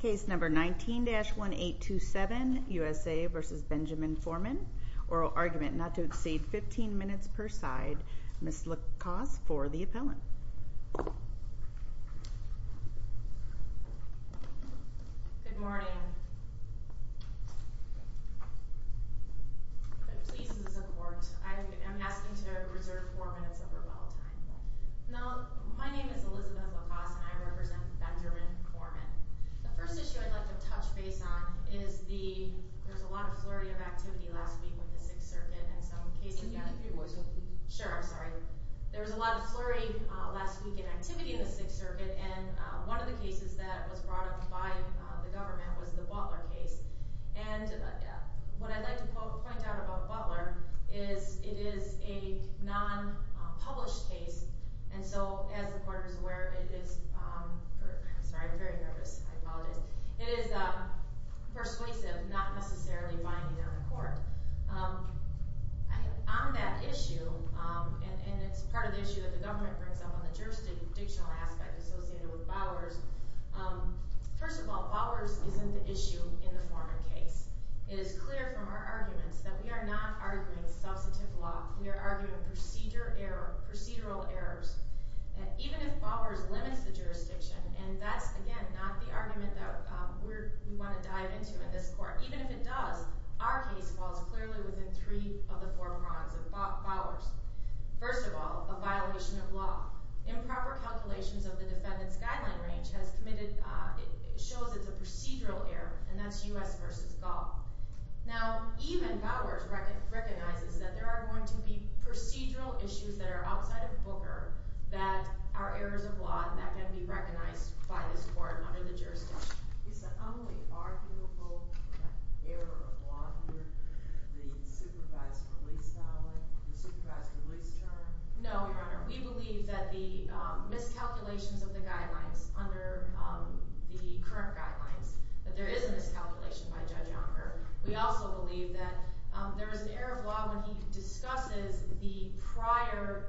Case number 19-1827, USA versus Benjamin Foreman. Oral argument not to exceed 15 minutes per side. Ms. LaCoste for the appellant. Good morning. I'm pleased to support. I am asking to reserve four minutes of rebuttal time. Now, my name is Elizabeth LaCoste, and I represent Benjamin Foreman. The first issue I'd like to touch base on is there was a lot of flurry of activity last week with the Sixth Circuit. And some cases got- Can you repeat what you're saying, please? Sure, I'm sorry. There was a lot of flurry last week in activity in the Sixth Circuit. And one of the cases that was brought up by the government was the Butler case. And what I'd like to point out about Butler is it is a non-published case. And so, as the court is aware, it is... Sorry, I'm very nervous, I apologize. It is persuasive, not necessarily binding on the court. On that issue, and it's part of the issue that the government brings up on the jurisdictional aspect associated with Bowers. First of all, Bowers isn't the issue in the Foreman case. It is clear from our arguments that we are not arguing substantive law. We are arguing procedural errors. And even if Bowers limits the jurisdiction, and that's, again, not the argument that we wanna dive into in this court. Even if it does, our case falls clearly within three of the four prongs of Bowers. First of all, a violation of law. Improper calculations of the defendant's guideline range has committed, shows it's a procedural error, and that's U.S. versus Gaul. Now, even Bowers recognizes that there are going to be procedural issues that are outside of Booker that are errors of law and that can be recognized by this court under the jurisdiction. You said only arguable error of law here, the supervised release term? No, Your Honor. We believe that the miscalculations of the guidelines under the current guidelines, that there is a miscalculation by Judge Onger. We also believe that there is an error of law when he discusses the prior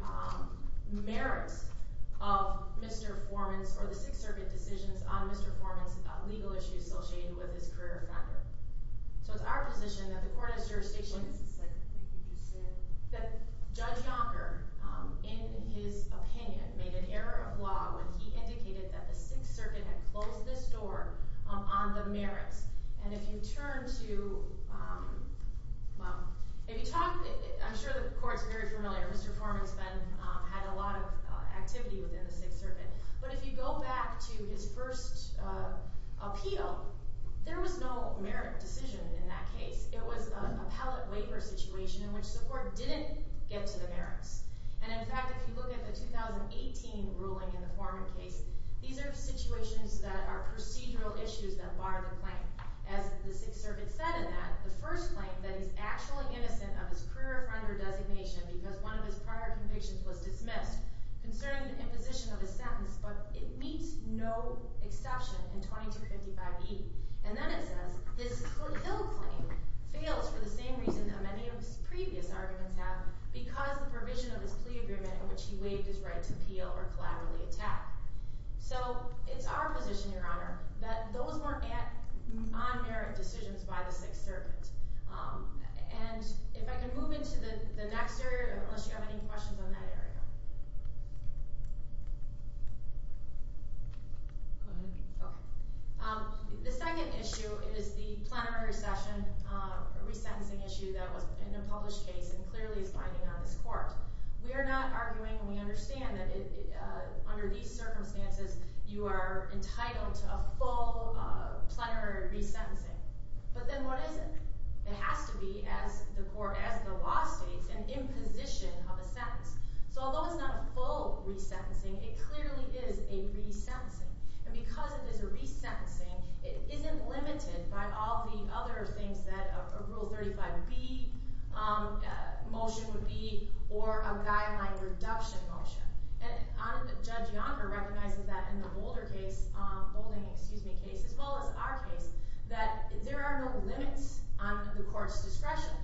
merits of Mr. Forman's or the Sixth Circuit decisions on Mr. Forman's legal issues associated with his career offender. So it's our position that the court has jurisdiction. What is the second thing you just said? That Judge Onger, in his opinion, made an error of law when he indicated that the Sixth Circuit had closed this door on the merits. And if you turn to, well, if you talk, I'm sure the court's very familiar. Mr. Forman's been, had a lot of activity within the Sixth Circuit. But if you go back to his first appeal, there was no merit decision in that case. It was a pallet waiver situation in which the court didn't get to the merits. And in fact, if you look at the 2018 ruling in the Forman case, these are situations that are procedural issues that bar the claim. As the Sixth Circuit said in that, the first claim that he's actually innocent of his career offender designation because one of his prior convictions was dismissed concerning the imposition of his sentence, but it meets no exception in 2255E. And then it says, this Hill claim fails for the same reason that many of his previous arguments have in which he waived his right to appeal or collaboratively attack. So it's our position, Your Honor, that those weren't on-merit decisions by the Sixth Circuit. And if I can move into the next area, unless you have any questions on that area. Go ahead. Okay. The second issue is the plenary session, a resentencing issue that was in a published case and clearly is binding on this court. We are not arguing, and we understand that under these circumstances, you are entitled to a full plenary resentencing. But then what is it? It has to be, as the law states, an imposition of a sentence. So although it's not a full resentencing, it clearly is a resentencing. And because it is a resentencing, it isn't limited by all the other things that a Rule 35B motion would be or a guideline reduction motion. And Judge Yonker recognizes that in the Boulder case, Boulding, excuse me, case, as well as our case, that there are no limits on the court's discretion.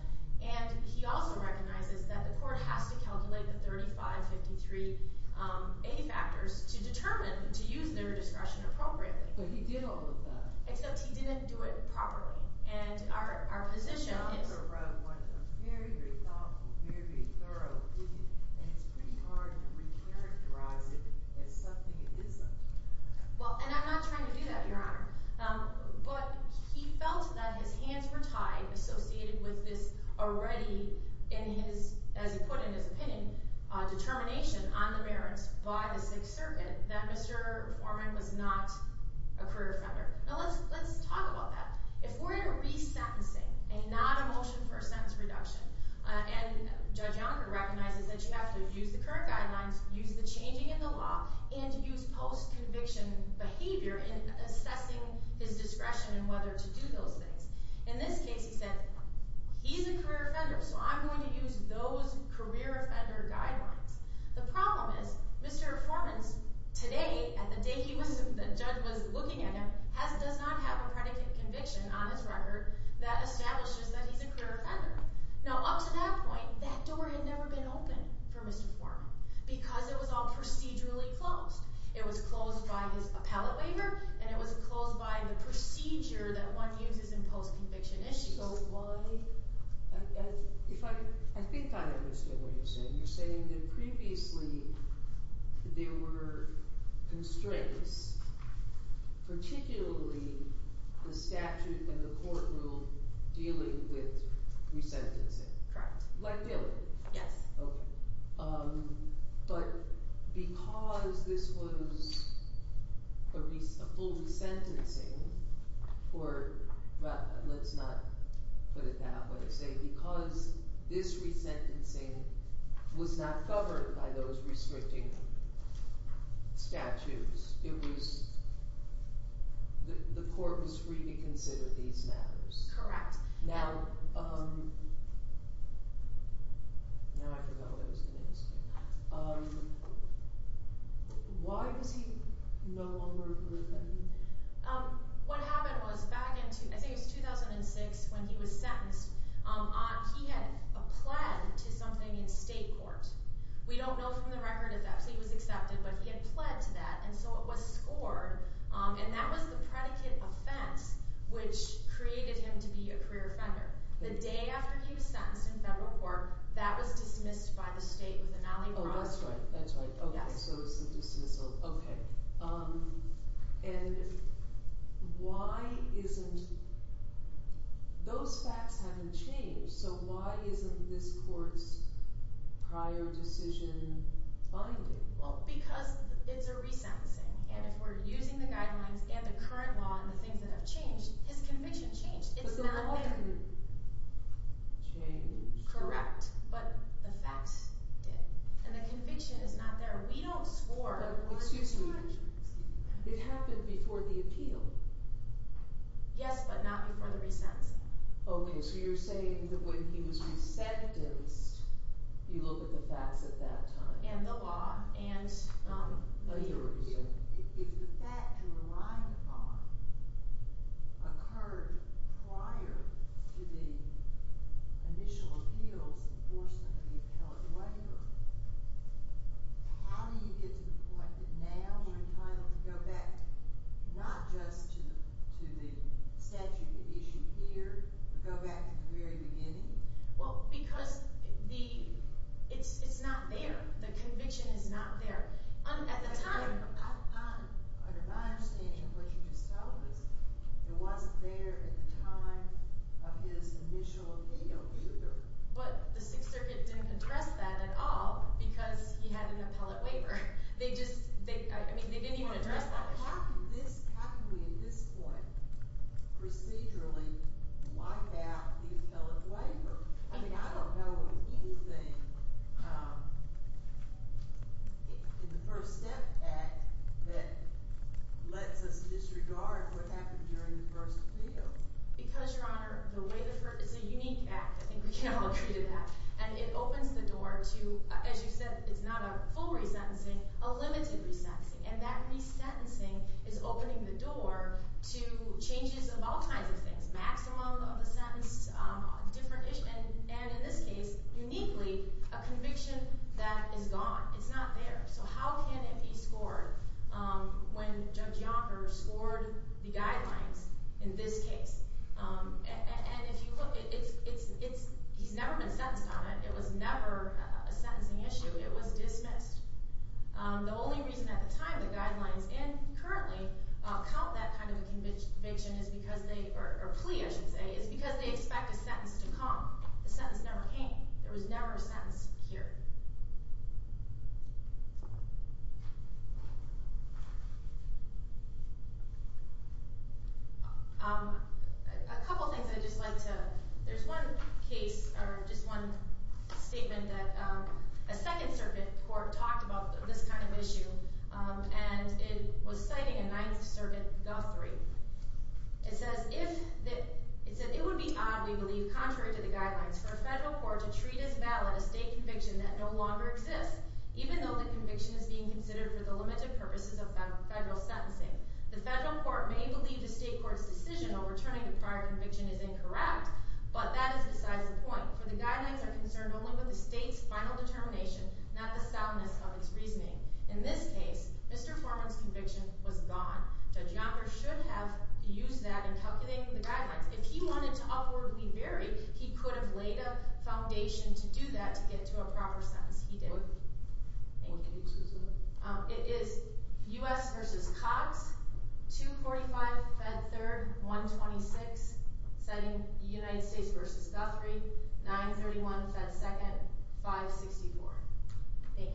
And he also recognizes that the court has to calculate the 3553A factors to determine to use their discretion appropriately. But he did all of that. Except he didn't do it properly. And our position is- He was very thoughtful, very thorough with it. And it's pretty hard to recharacterize it as something it isn't. Well, and I'm not trying to do that, Your Honor. But he felt that his hands were tied associated with this already, as he put in his opinion, determination on the merits by the Sixth Circuit that Mr. Foreman was not a career offender. Now let's talk about that. If we're in a resentencing, and not a motion for a sentence reduction, and Judge Yonker recognizes that you have to use the current guidelines, use the changing in the law, and use post-conviction behavior in assessing his discretion in whether to do those things. In this case, he said, he's a career offender, so I'm going to use those career offender guidelines. The problem is, Mr. Foreman's today, at the date the judge was looking at him, does not have a predicate conviction on his record that establishes that he's a career offender. Now, up to that point, that door had never been open for Mr. Foreman, because it was all procedurally closed. It was closed by his appellate waiver, and it was closed by the procedure that one uses in post-conviction issues. So why, if I, I think I understand what you're saying. You're saying that previously, there were constraints, particularly the statute and the court rule dealing with resentencing. Correct. Like, really? Yes. Okay. But because this was a full resentencing, or, well, let's not put it that way. Say, because this resentencing was not covered by those restricting statutes, it was, the court was free to consider these matters. Correct. Now, now I forgot what I was gonna ask you. Why was he no longer grounded? What happened was, back in, I think it was 2006, when he was sentenced, he had a pled to something in state court. We don't know from the record if that was accepted, but he had pled to that, and so it was scored, and that was the predicate offense, which created him to be a career offender. The day after he was sentenced in federal court, that was dismissed by the state with an alibi. Oh, that's right, that's right. Okay, so it was a dismissal. Okay. And why isn't, those facts haven't changed, so why isn't this court's prior decision binding? Well, because it's a resentencing, and if we're using the guidelines, and the current law, and the things that have changed, his conviction changed. It's not there. But the law didn't change. Correct, but the facts did, and the conviction is not there. We don't score, but we're choosing. But excuse me, it happened before the appeal. Yes, but not before the resentencing. Okay, so you're saying that when he was resentenced, you look at the facts at that time. And the law, and the years. If the fact you're relying upon occurred prior to the initial appeals, enforcement of the appellate waiver, how do you get to the point that now you're entitled to go back, not just to the statute you issued here, but go back to the very beginning? Well, because it's not there. The conviction is not there. At the time. Under my understanding of what you just told us, it wasn't there at the time of his initial appeal either. But the Sixth Circuit didn't address that at all, because he had an appellate waiver. They just, I mean, they didn't even address that issue. How can we at this point, procedurally, wipe out the appellate waiver? I mean, I don't know of anything in the First Step Act that lets us disregard what happened during the first appeal. Because, Your Honor, it's a unique act. I think we can all agree to that. And it opens the door to, as you said, it's not a full resentencing, a limited resentencing. And that resentencing is opening the door to changes of all kinds of things. Maximum of the sentence, different issue. And in this case, uniquely, a conviction that is gone. It's not there. So how can it be scored when Judge Yonker scored the guidelines in this case? And if you look, he's never been sentenced on it. It was never a sentencing issue. It was dismissed. The only reason at the time the guidelines, and currently, count that kind of a conviction is because they, or plea, I should say, is because they expect a sentence to come. The sentence never came. There was never a sentence here. A couple things I'd just like to, there's one case, or just one statement that a Second Circuit court talked about this kind of issue. And it was citing a Ninth Circuit guthrie. It says, it would be odd, we believe, contrary to the guidelines, for a federal court to treat as valid a state conviction that no longer exists, even though the conviction is being considered for the limited purposes of federal sentencing. The federal court may believe the state court's decision overturning the prior conviction is incorrect, but that is besides the point, for the guidelines are concerned only with the state's final determination, not the soundness of its reasoning. In this case, Mr. Foreman's conviction was gone. Judge Yonker should have used that in calculating the guidelines. If he wanted to upwardly vary, he could have laid a foundation to do that, to get to a proper sentence. He didn't. Thank you. It is U.S. versus Cox, 245-Fed 3rd, 126, citing United States versus Guthrie, 931-Fed 2nd, 564. Thank you. Mr. Foreman. Good morning,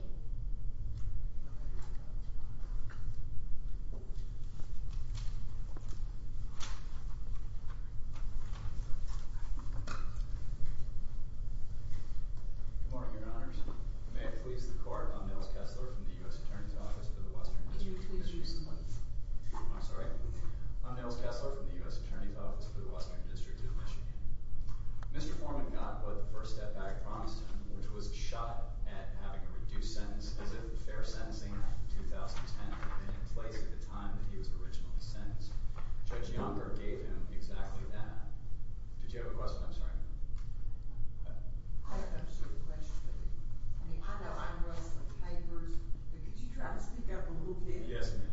your honors. May I please the court? I'm Nils Kessler from the U.S. Attorney's Office for the Western District of Michigan. Could you please use the mic? I'm sorry? I'm Nils Kessler from the U.S. Attorney's Office for the Western District of Michigan. Mr. Foreman got what the first step back promised him, which was a shot at having a reduced sentence, as if fair sentencing in 2010 had been in place at the time that he was originally sentenced. Judge Yonker gave him exactly that. Did you have a question? I'm sorry. I have a question. I know I'm wrestling papers, but could you try to speak up a little bit? Yes, ma'am.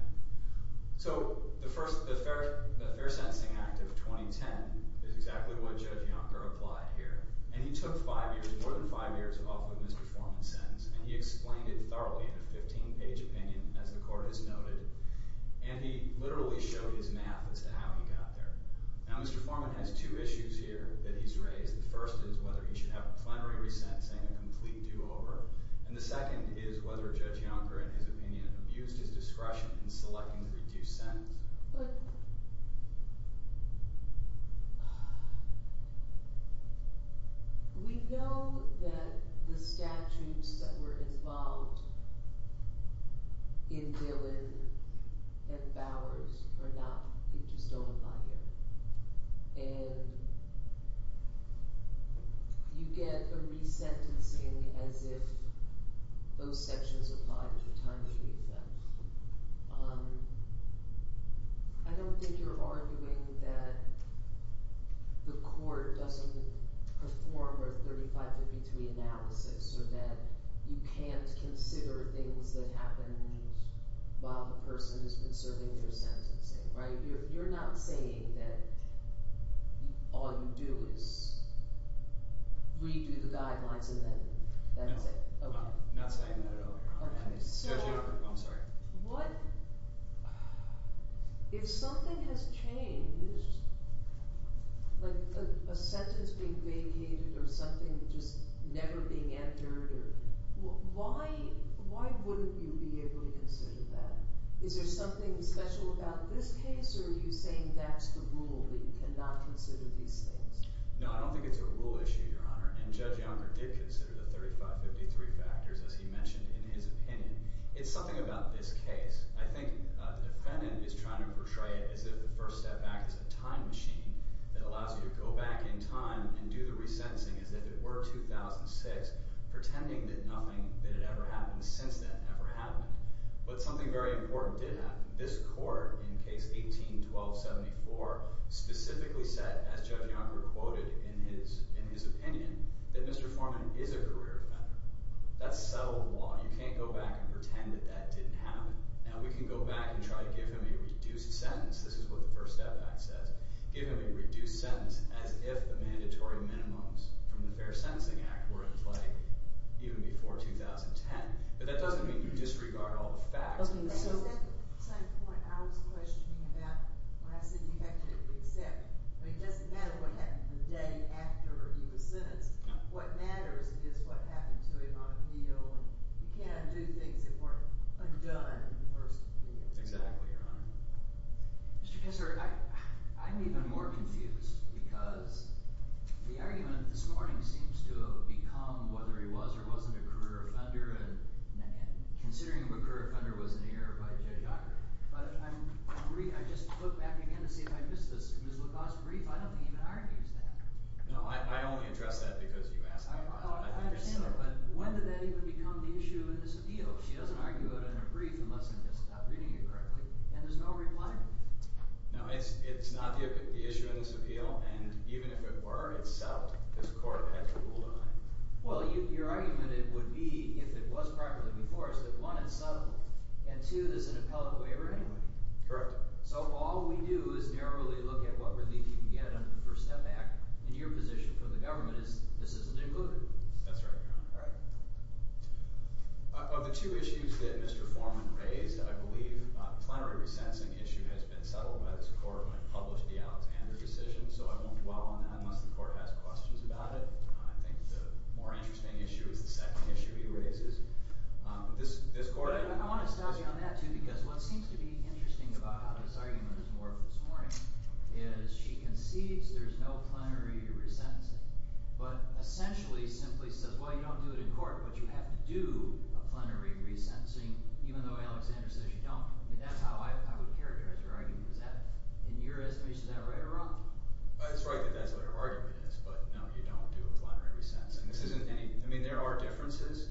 So the first, the Fair Sentencing Act of 2010 is exactly what Judge Yonker applied here, and he took five years, more than five years, off of Mr. Foreman's sentence, and he explained it thoroughly in a 15-page opinion, as the court has noted, and he literally showed his math as to how he got there. Now, Mr. Foreman has two issues here that he's raised. The first is whether he should have a plenary resent, saying a complete do-over, and the second is whether Judge Yonker, in his opinion, abused his discretion in selecting the reduced sentence. We know that the statutes that were involved in Dillon and Bowers are not, they just don't apply here, and you get a resentencing as if those sections applied at the time that you leave them. I don't think you're arguing that the court doesn't perform a 3553 analysis, or that you can't consider things that happened while the person has been serving their sentencing, right? You're not saying that all you do is redo the guidelines and then that's it? Okay. I'm not saying that at all, Your Honor. Okay. Judge Yonker, I'm sorry. What? If something has changed, like a sentence being vacated or something just never being entered, why wouldn't you be able to consider that? Is there something special about this case, or are you saying that's the rule, that you cannot consider these things? No, I don't think it's a rule issue, Your Honor, and Judge Yonker did consider the 3553 factors, as he mentioned in his opinion. It's something about this case. I think the defendant is trying to portray it as if the first step back is a time machine that allows you to go back in time and do the resentencing as if it were 2006, pretending that nothing that had ever happened since then ever happened. But something very important did happen. This court, in case 18-1274, specifically said, as Judge Yonker quoted in his opinion, that Mr. Forman is a career offender. That's settled law. You can't go back and pretend that that didn't happen. Now we can go back and try to give him a reduced sentence. This is what the First Step Act says. Give him a reduced sentence as if the mandatory minimums from the Fair Sentencing Act were in play even before 2010. But that doesn't mean you disregard all the facts. Okay, so at the same point, I was questioning that when I said you have to accept. I mean, it doesn't matter what happened the day after he was sentenced. What matters is what happened to him on appeal. You can't do things that weren't done in the first appeal. Exactly, Your Honor. Mr. Kessler, I'm even more confused because the argument this morning seems to have become whether he was or wasn't a career offender, and considering him a career offender was an error by Judge Yonker. But I just look back again to see if I missed this. Ms. LaCoste's brief, I don't think even argues that. No, I only address that because you asked me about it. I understand that, but when did that even become the issue in this appeal? She doesn't argue it in her brief unless I'm just not reading it correctly, and there's no reply. No, it's not the issue in this appeal, and even if it were, it's settled. This court has a rule of nine. Well, your argument would be, if it was properly before us, that one, it's settled, and two, there's an appellate waiver anyway. Correct. So all we do is narrowly look at what relief you can get under the First Step Act, and your position for the government is this isn't included. That's right, Your Honor. All right. Of the two issues that Mr. Forman raised, I believe a plenary resentencing issue has been settled by this court when it published the Alexander decision, so I won't dwell on that unless the court has questions about it. I think the more interesting issue is the second issue he raises. This court, I want to staunch you on that, too, because what seems to be interesting about how this argument is morphed this morning is she concedes there's no plenary resentencing, but essentially simply says, well, you don't do it in court, but you have to do a plenary resentencing, even though Alexander says you don't. I mean, that's how I would characterize her argument. Is that, in your estimation, is that right or wrong? It's right that that's what her argument is, but no, you don't do a plenary resentencing. This isn't any, I mean, there are differences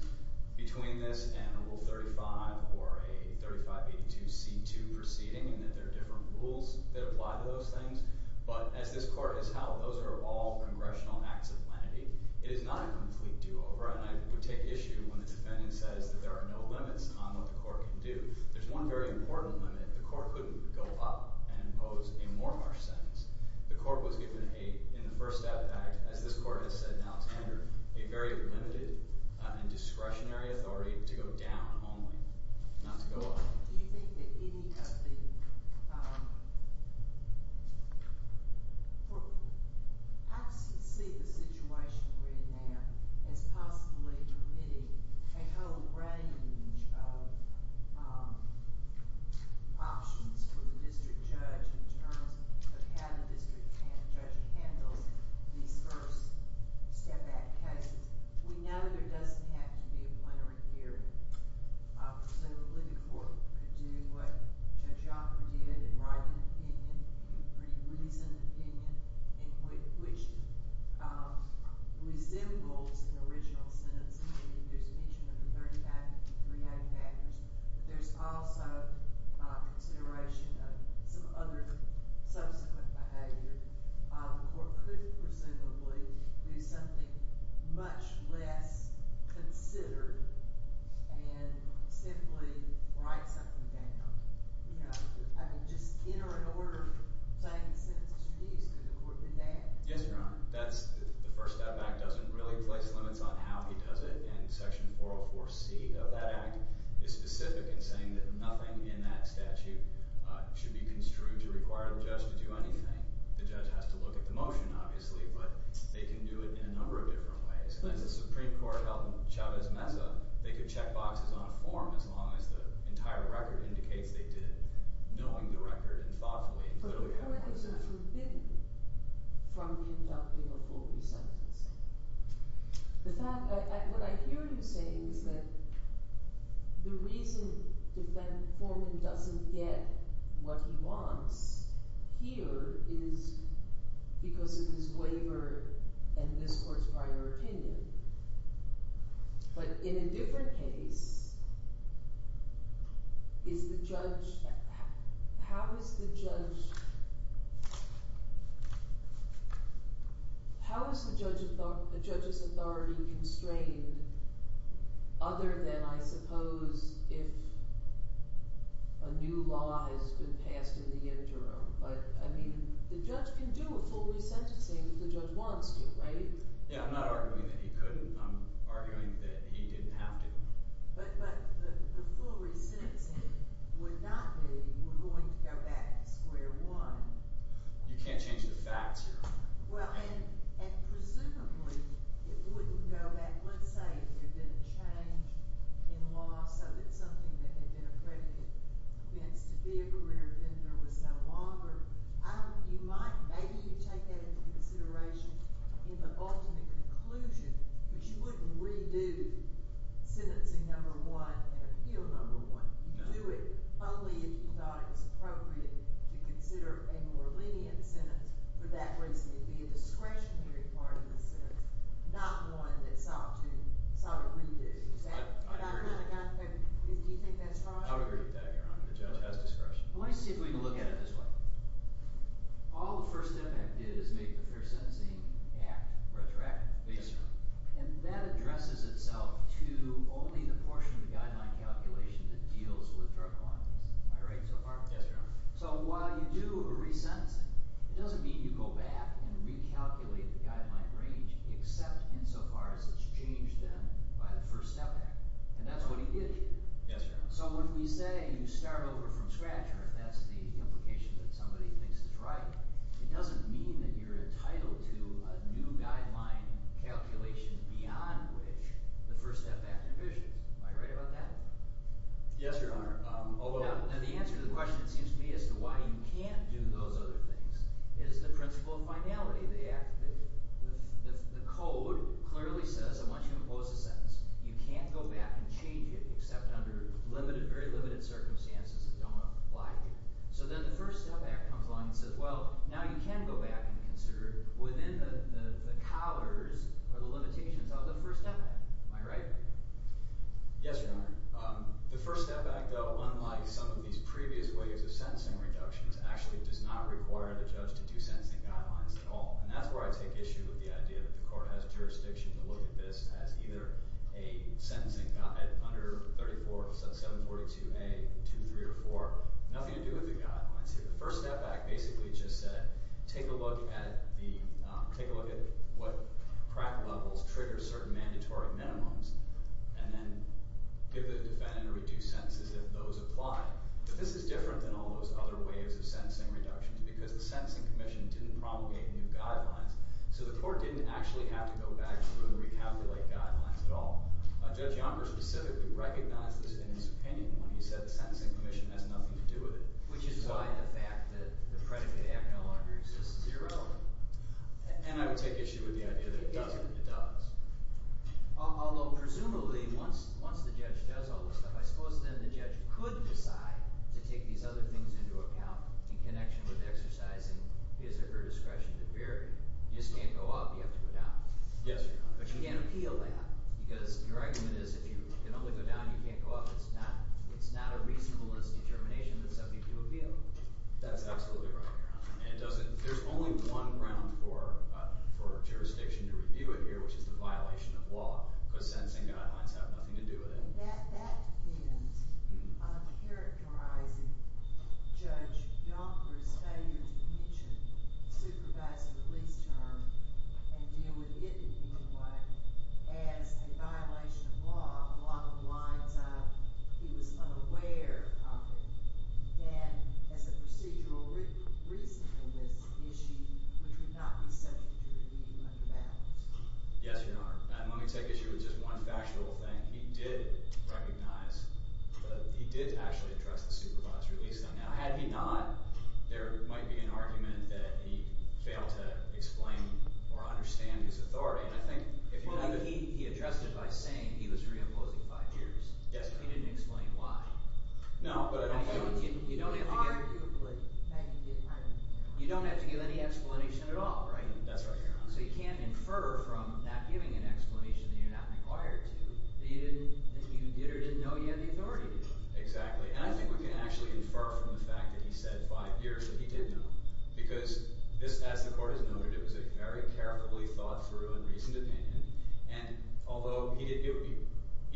between this and Rule 35 or a 3582c2 proceeding in that there are different rules that apply to those things, but as this court has held, those are all congressional acts of lenity. It is not a complete do-over, and I would take issue when the defendant says that there are no limits on what the court can do. There's one very important limit. The court couldn't go up and impose a more harsh sentence. The court was given a, in the first act, as this court has said now to Andrew, a very limited and discretionary authority to go down only, not to go up. Do you think that any of the, I see the situation we're in now as possibly permitting a whole range of options for the district judge in terms of how the district judge handles these first step-back cases? We know there doesn't have to be a plenary hearing. Presumably, the court could do what Judge Yoffer did and write an opinion, a pretty reasoned opinion, in which resembles an original sentence. I mean, there's a mention of the 3953A factors, but there's also consideration of some other subsequent behavior. The court could, presumably, do something much less considered and simply write something down. I mean, just in or in order of saying the sentence could the court do that? Yes, Your Honor. The first step-back doesn't really place limits on how he does it, and section 404C of that act is specific in saying that nothing in that statute should be construed to require the judge to do anything. The judge has to look at the motion, obviously, but they can do it in a number of different ways. And as the Supreme Court held in Chavez Mesa, they could check boxes on a form as long as the entire record indicates they did knowing the record and thoughtfully. But the correctives are forbidden from conducting a full resentencing. The fact, what I hear you saying is that the reason Defendant Foreman doesn't get what he wants here is because of his waiver and this court's prior opinion. But in a different case, is the judge, how is the judge, how is the judge's authority constrained other than, I suppose, if a new law has been passed in the interim? But, I mean, the judge can do a full resentencing if the judge wants to, right? Yeah, I'm not arguing that he couldn't. I'm arguing that he didn't have to. But the full resentencing would not be, we're going to go back to square one. You can't change the facts here. Well, and presumably, it wouldn't go back. Let's say if there'd been a change in law so that something that had been accredited meant to be a career offender was no longer. You might, maybe you take that into consideration in the ultimate conclusion, but you wouldn't redo sentencing number one and appeal number one. You'd do it only if you thought it was appropriate to consider a more lenient sentence. For that reason, it'd be a discretionary part of the sentence, not one that sought to, sought a redo. Is that, do you think that's right? I would agree with that, Your Honor. The judge has discretion. Well, let me see if we can look at it this way. All the first step that it did is make the Fair Sentencing Act retroactive. Yes, Your Honor. And that addresses itself to only the portion of the guideline calculation that deals with drug quantities. Am I right so far? Yes, Your Honor. So while you do a resentencing, it doesn't mean you go back and recalculate the guideline range, except insofar as it's changed then by the First Step Act. And that's what he did. Yes, Your Honor. So when we say you start over from scratch, or if that's the implication that somebody thinks is right, it doesn't mean that you're entitled to a new guideline calculation beyond which the First Step Act revisions. Am I right about that? Yes, Your Honor, although- Now, the answer to the question, it seems to me, as to why you can't do those other things is the principle of finality. The act, the code clearly says, I want you to impose a sentence. You can't go back and change it, except under limited, very limited circumstances that don't apply to you. So then the First Step Act comes along and says, well, now you can go back and consider within the collars or the limitations of the First Step Act. Am I right? Yes, Your Honor. The First Step Act, though, unlike some of these previous ways of sentencing reductions, actually does not require the judge to do sentencing guidelines at all. And that's where I take issue with the idea that the court has jurisdiction to look at this as either a sentencing guide, under 34, 742A, 2, 3, or 4, nothing to do with the guidelines here. The First Step Act basically just said, take a look at the, take a look at what crack levels trigger certain mandatory minimums, and then give the defendant a reduced sentence if those apply. But this is different than all those other ways of sentencing reductions, because the Sentencing Commission didn't promulgate new guidelines, so the court didn't actually have to go back through and recalculate guidelines at all. Judge Yonker specifically recognized this in his opinion when he said the Sentencing Commission has nothing to do with it. Which is why the fact that the predicate of the Act no longer exists is irrelevant. And I would take issue with the idea that it doesn't. It does. Although, presumably, once the judge does all this stuff, I suppose then the judge could decide to take these other things into account in connection with exercising his or her discretion to vary, you just can't go up, you have to go down. Yes. But you can't appeal that, because your argument is if you can only go down, you can't go up, it's not a reasonableness determination that's subject to appeal. That's absolutely right, Your Honor. And there's only one ground for jurisdiction to review it here, which is the violation of law, because sentencing guidelines have nothing to do with it. That depends. I'm characterizing Judge Yonker's failure to mention supervisor release term and deal with it in any way as a violation of law, along the lines of he was unaware of it, then as a procedural reason for this issue, which would not be subject to review under balance. Yes, Your Honor. And let me take issue with just one factual thing. He did recognize that he did actually address the supervisor release term. Now, had he not, there might be an argument that he failed to explain or understand his authority. And I think, if you know the... Well, he addressed it by saying he was reimposing five years. Yes, Your Honor. He didn't explain why. No, but I don't think... I think you don't have to give... Arguably, that could be an argument. You don't have to give any explanation at all, right? That's right, Your Honor. So you can't infer from not giving an explanation that you're not required to, that you did or didn't know you had the authority to do it. Exactly, and I think we can actually infer from the fact that he said five years that he did know, because this, as the court has noted, it was a very carefully thought through and reasoned opinion and although it would be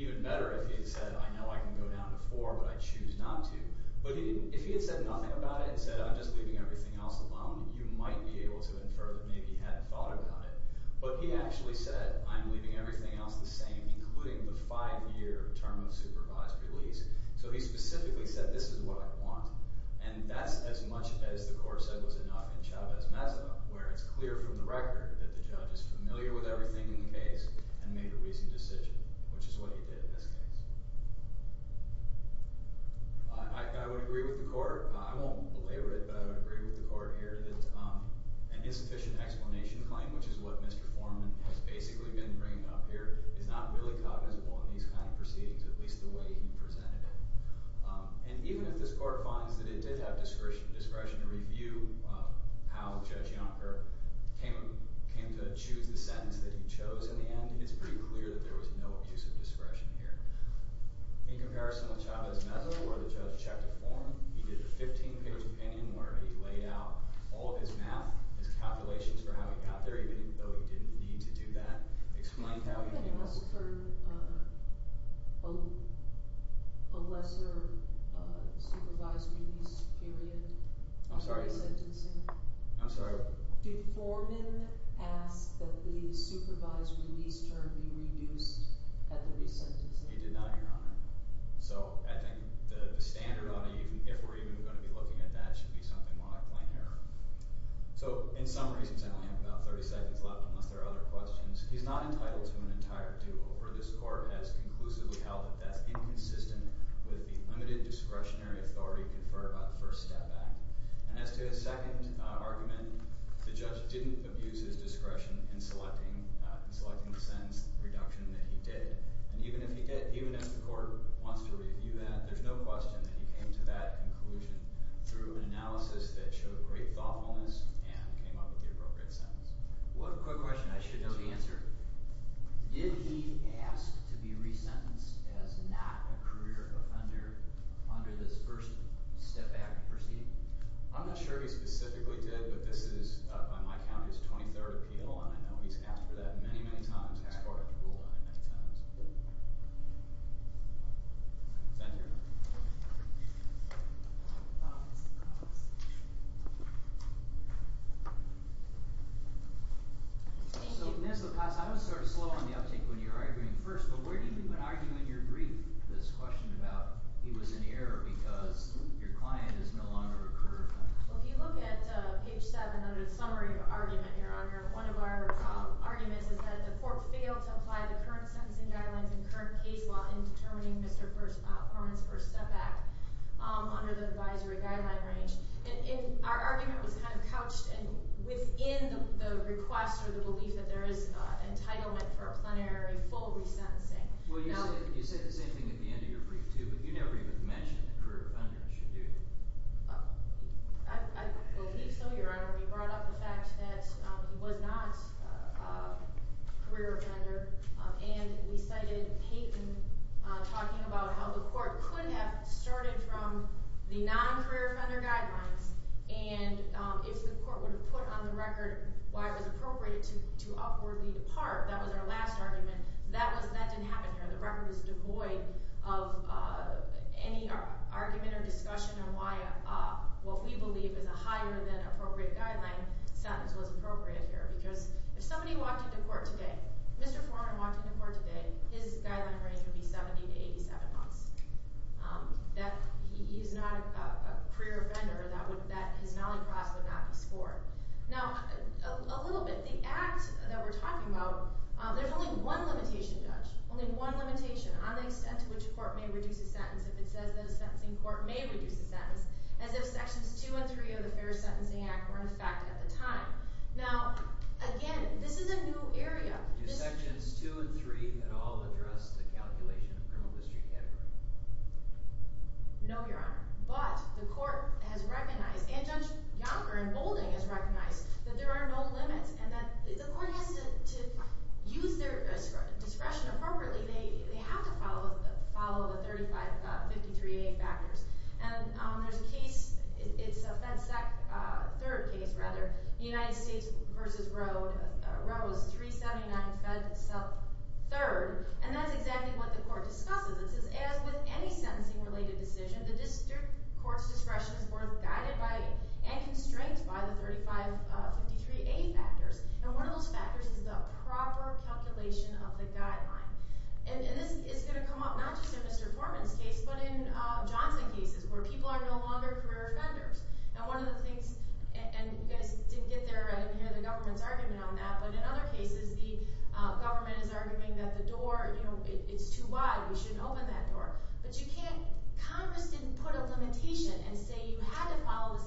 even better if he had said, I know I can go down to four, but I choose not to. But if he had said nothing about it, and said, I'm just leaving everything else alone, you might be able to infer that maybe he hadn't thought about it. But he actually said, I'm leaving everything else the same, including the five year term of supervised release. So he specifically said, this is what I want. And that's as much as the court said was enough in Chavez-Mezza, where it's clear from the record that the judge is familiar with everything in the case and made a reasoned decision, which is what he did in this case. I would agree with the court. I won't belabor it, but I would agree with the court here that an insufficient explanation claim, which is what Mr. Forman has basically been bringing up here is not really cognizable in these kind of proceedings, at least the way he presented it. And even if this court finds that it did have discretion to review how Judge Yonker came to choose the sentence that he chose in the end, I think it's pretty clear that there was no abuse of discretion here. In comparison with Chavez-Mezza, where the judge checked with Forman, he did a 15-page opinion where he laid out all of his math, his calculations for how he got there, even though he didn't need to do that. Explained how he came up with- I haven't asked for a lesser supervised release period I'm sorry? For the sentencing. I'm sorry? Did Forman ask that the supervised release term be reduced at the resentencing? He did not, Your Honor. So I think the standard, if we're even gonna be looking at that, should be something like plain error. So in summary, since I only have about 30 seconds left, unless there are other questions, he's not entitled to an entire due over. This court has conclusively held that that's inconsistent with the limited discretionary authority conferred by the First Step Act. And as to his second argument, the judge didn't abuse his discretion in selecting the sentence reduction that he did. And even if he did, even if the court wants to review that, there's no question that he came to that conclusion through an analysis that showed great thoughtfulness and came up with the appropriate sentence. One quick question, I should know the answer. Did he ask to be resentenced as not a career offender under this First Step Act proceeding? I'm not sure he specifically did, but this is, by my count, his 23rd appeal, and I know he's asked for that many, many times, and this court has ruled on it many times. Thank you, Your Honor. So, Ms. LaPaz, I was sort of slow on the uptake of what you were arguing first, but where do you think would argue in your brief this question about he was an error because your client is no longer a career offender? Well, if you look at page seven of the summary of your argument, Your Honor, one of our arguments is that the court failed to apply the current sentencing guidelines and current case law in determining Mr. Perlman's First Step Act under the advisory guideline range. And our argument was kind of couched within the request or the belief that there is entitlement for a plenary full resentencing. Well, you said the same thing at the end of your brief, too, but you never even mentioned that career offenders should do it. I believe so, Your Honor. We brought up the fact that he was not a career offender, and we cited Peyton talking about how the court could have started from the non-career offender guidelines, and if the court would have put on the record why it was appropriate to upwardly depart. That was our last argument. That didn't happen here. The record was devoid of any argument or discussion on why what we believe is a higher than appropriate guideline sentence was appropriate here, because if somebody walked into court today, Mr. Foreman walked into court today, his guideline range would be 70 to 87 months. He is not a career offender that his molly cross would not be scored. Now, a little bit, the act that we're talking about, there's only one limitation, Judge, only one limitation on the extent to which a court may reduce a sentence if it says that a sentencing court may reduce a sentence, as if sections two and three of the Fair Sentencing Act were in effect at the time. Now, again, this is a new area. Do sections two and three at all address the calculation of criminal history category? No, Your Honor, but the court has recognized, and Judge Yonker and Boulding has recognized, that there are no limits, and that the court has to use their discretion appropriately. They have to follow the 3553A factors. And there's a case, it's a FedSec third case, rather, United States versus Roe, Roe is 379 FedSec third, and that's exactly what the court discusses. It says, as with any sentencing-related decision, the district court's discretion is both guided by and constrained by the 3553A factors. And one of those factors is the proper calculation of the guideline. And this is gonna come up, not just in Mr. Forman's case, but in Johnson cases, where people are no longer career offenders. And one of the things, and you guys didn't get there, I didn't hear the government's argument on that, but in other cases, the government is arguing that the door, it's too wide, we shouldn't open that door. But you can't, Congress didn't put a limitation and say you had to follow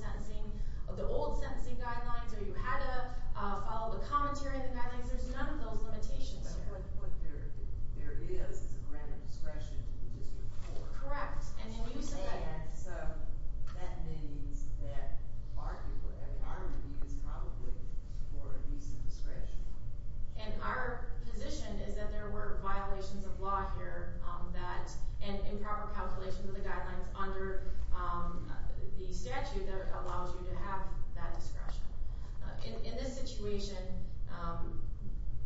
the old sentencing guidelines or you had to follow the commentary on the guidelines. There's none of those limitations here. What there is is a grant of discretion to the district court. Correct, and in use of that. So that means that our review is probably for use of discretion. And our position is that there were violations of law here that, and improper calculations of the guidelines under the statute that allows you to have that discretion. In this situation,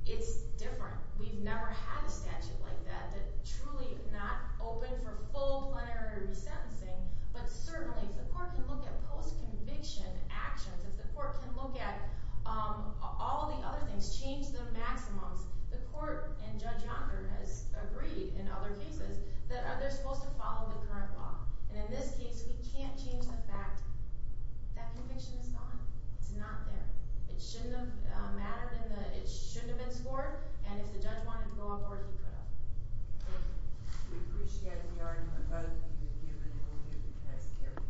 it's different. We've never had a statute like that, that truly not open for full plenary resentencing, but certainly, if the court can look at post-conviction actions, if the court can look at all the other things, change the maximums, the court and Judge Yonker has agreed in other cases that they're supposed to follow the current law. And in this case, we can't change the fact that conviction is gone. It's not there. It shouldn't have mattered in the, it shouldn't have been scored. And if the judge wanted to go on board, he could have. Thank you. We appreciate the argument both of you have given and we'll give the case careful consideration. Thank you. Thank you.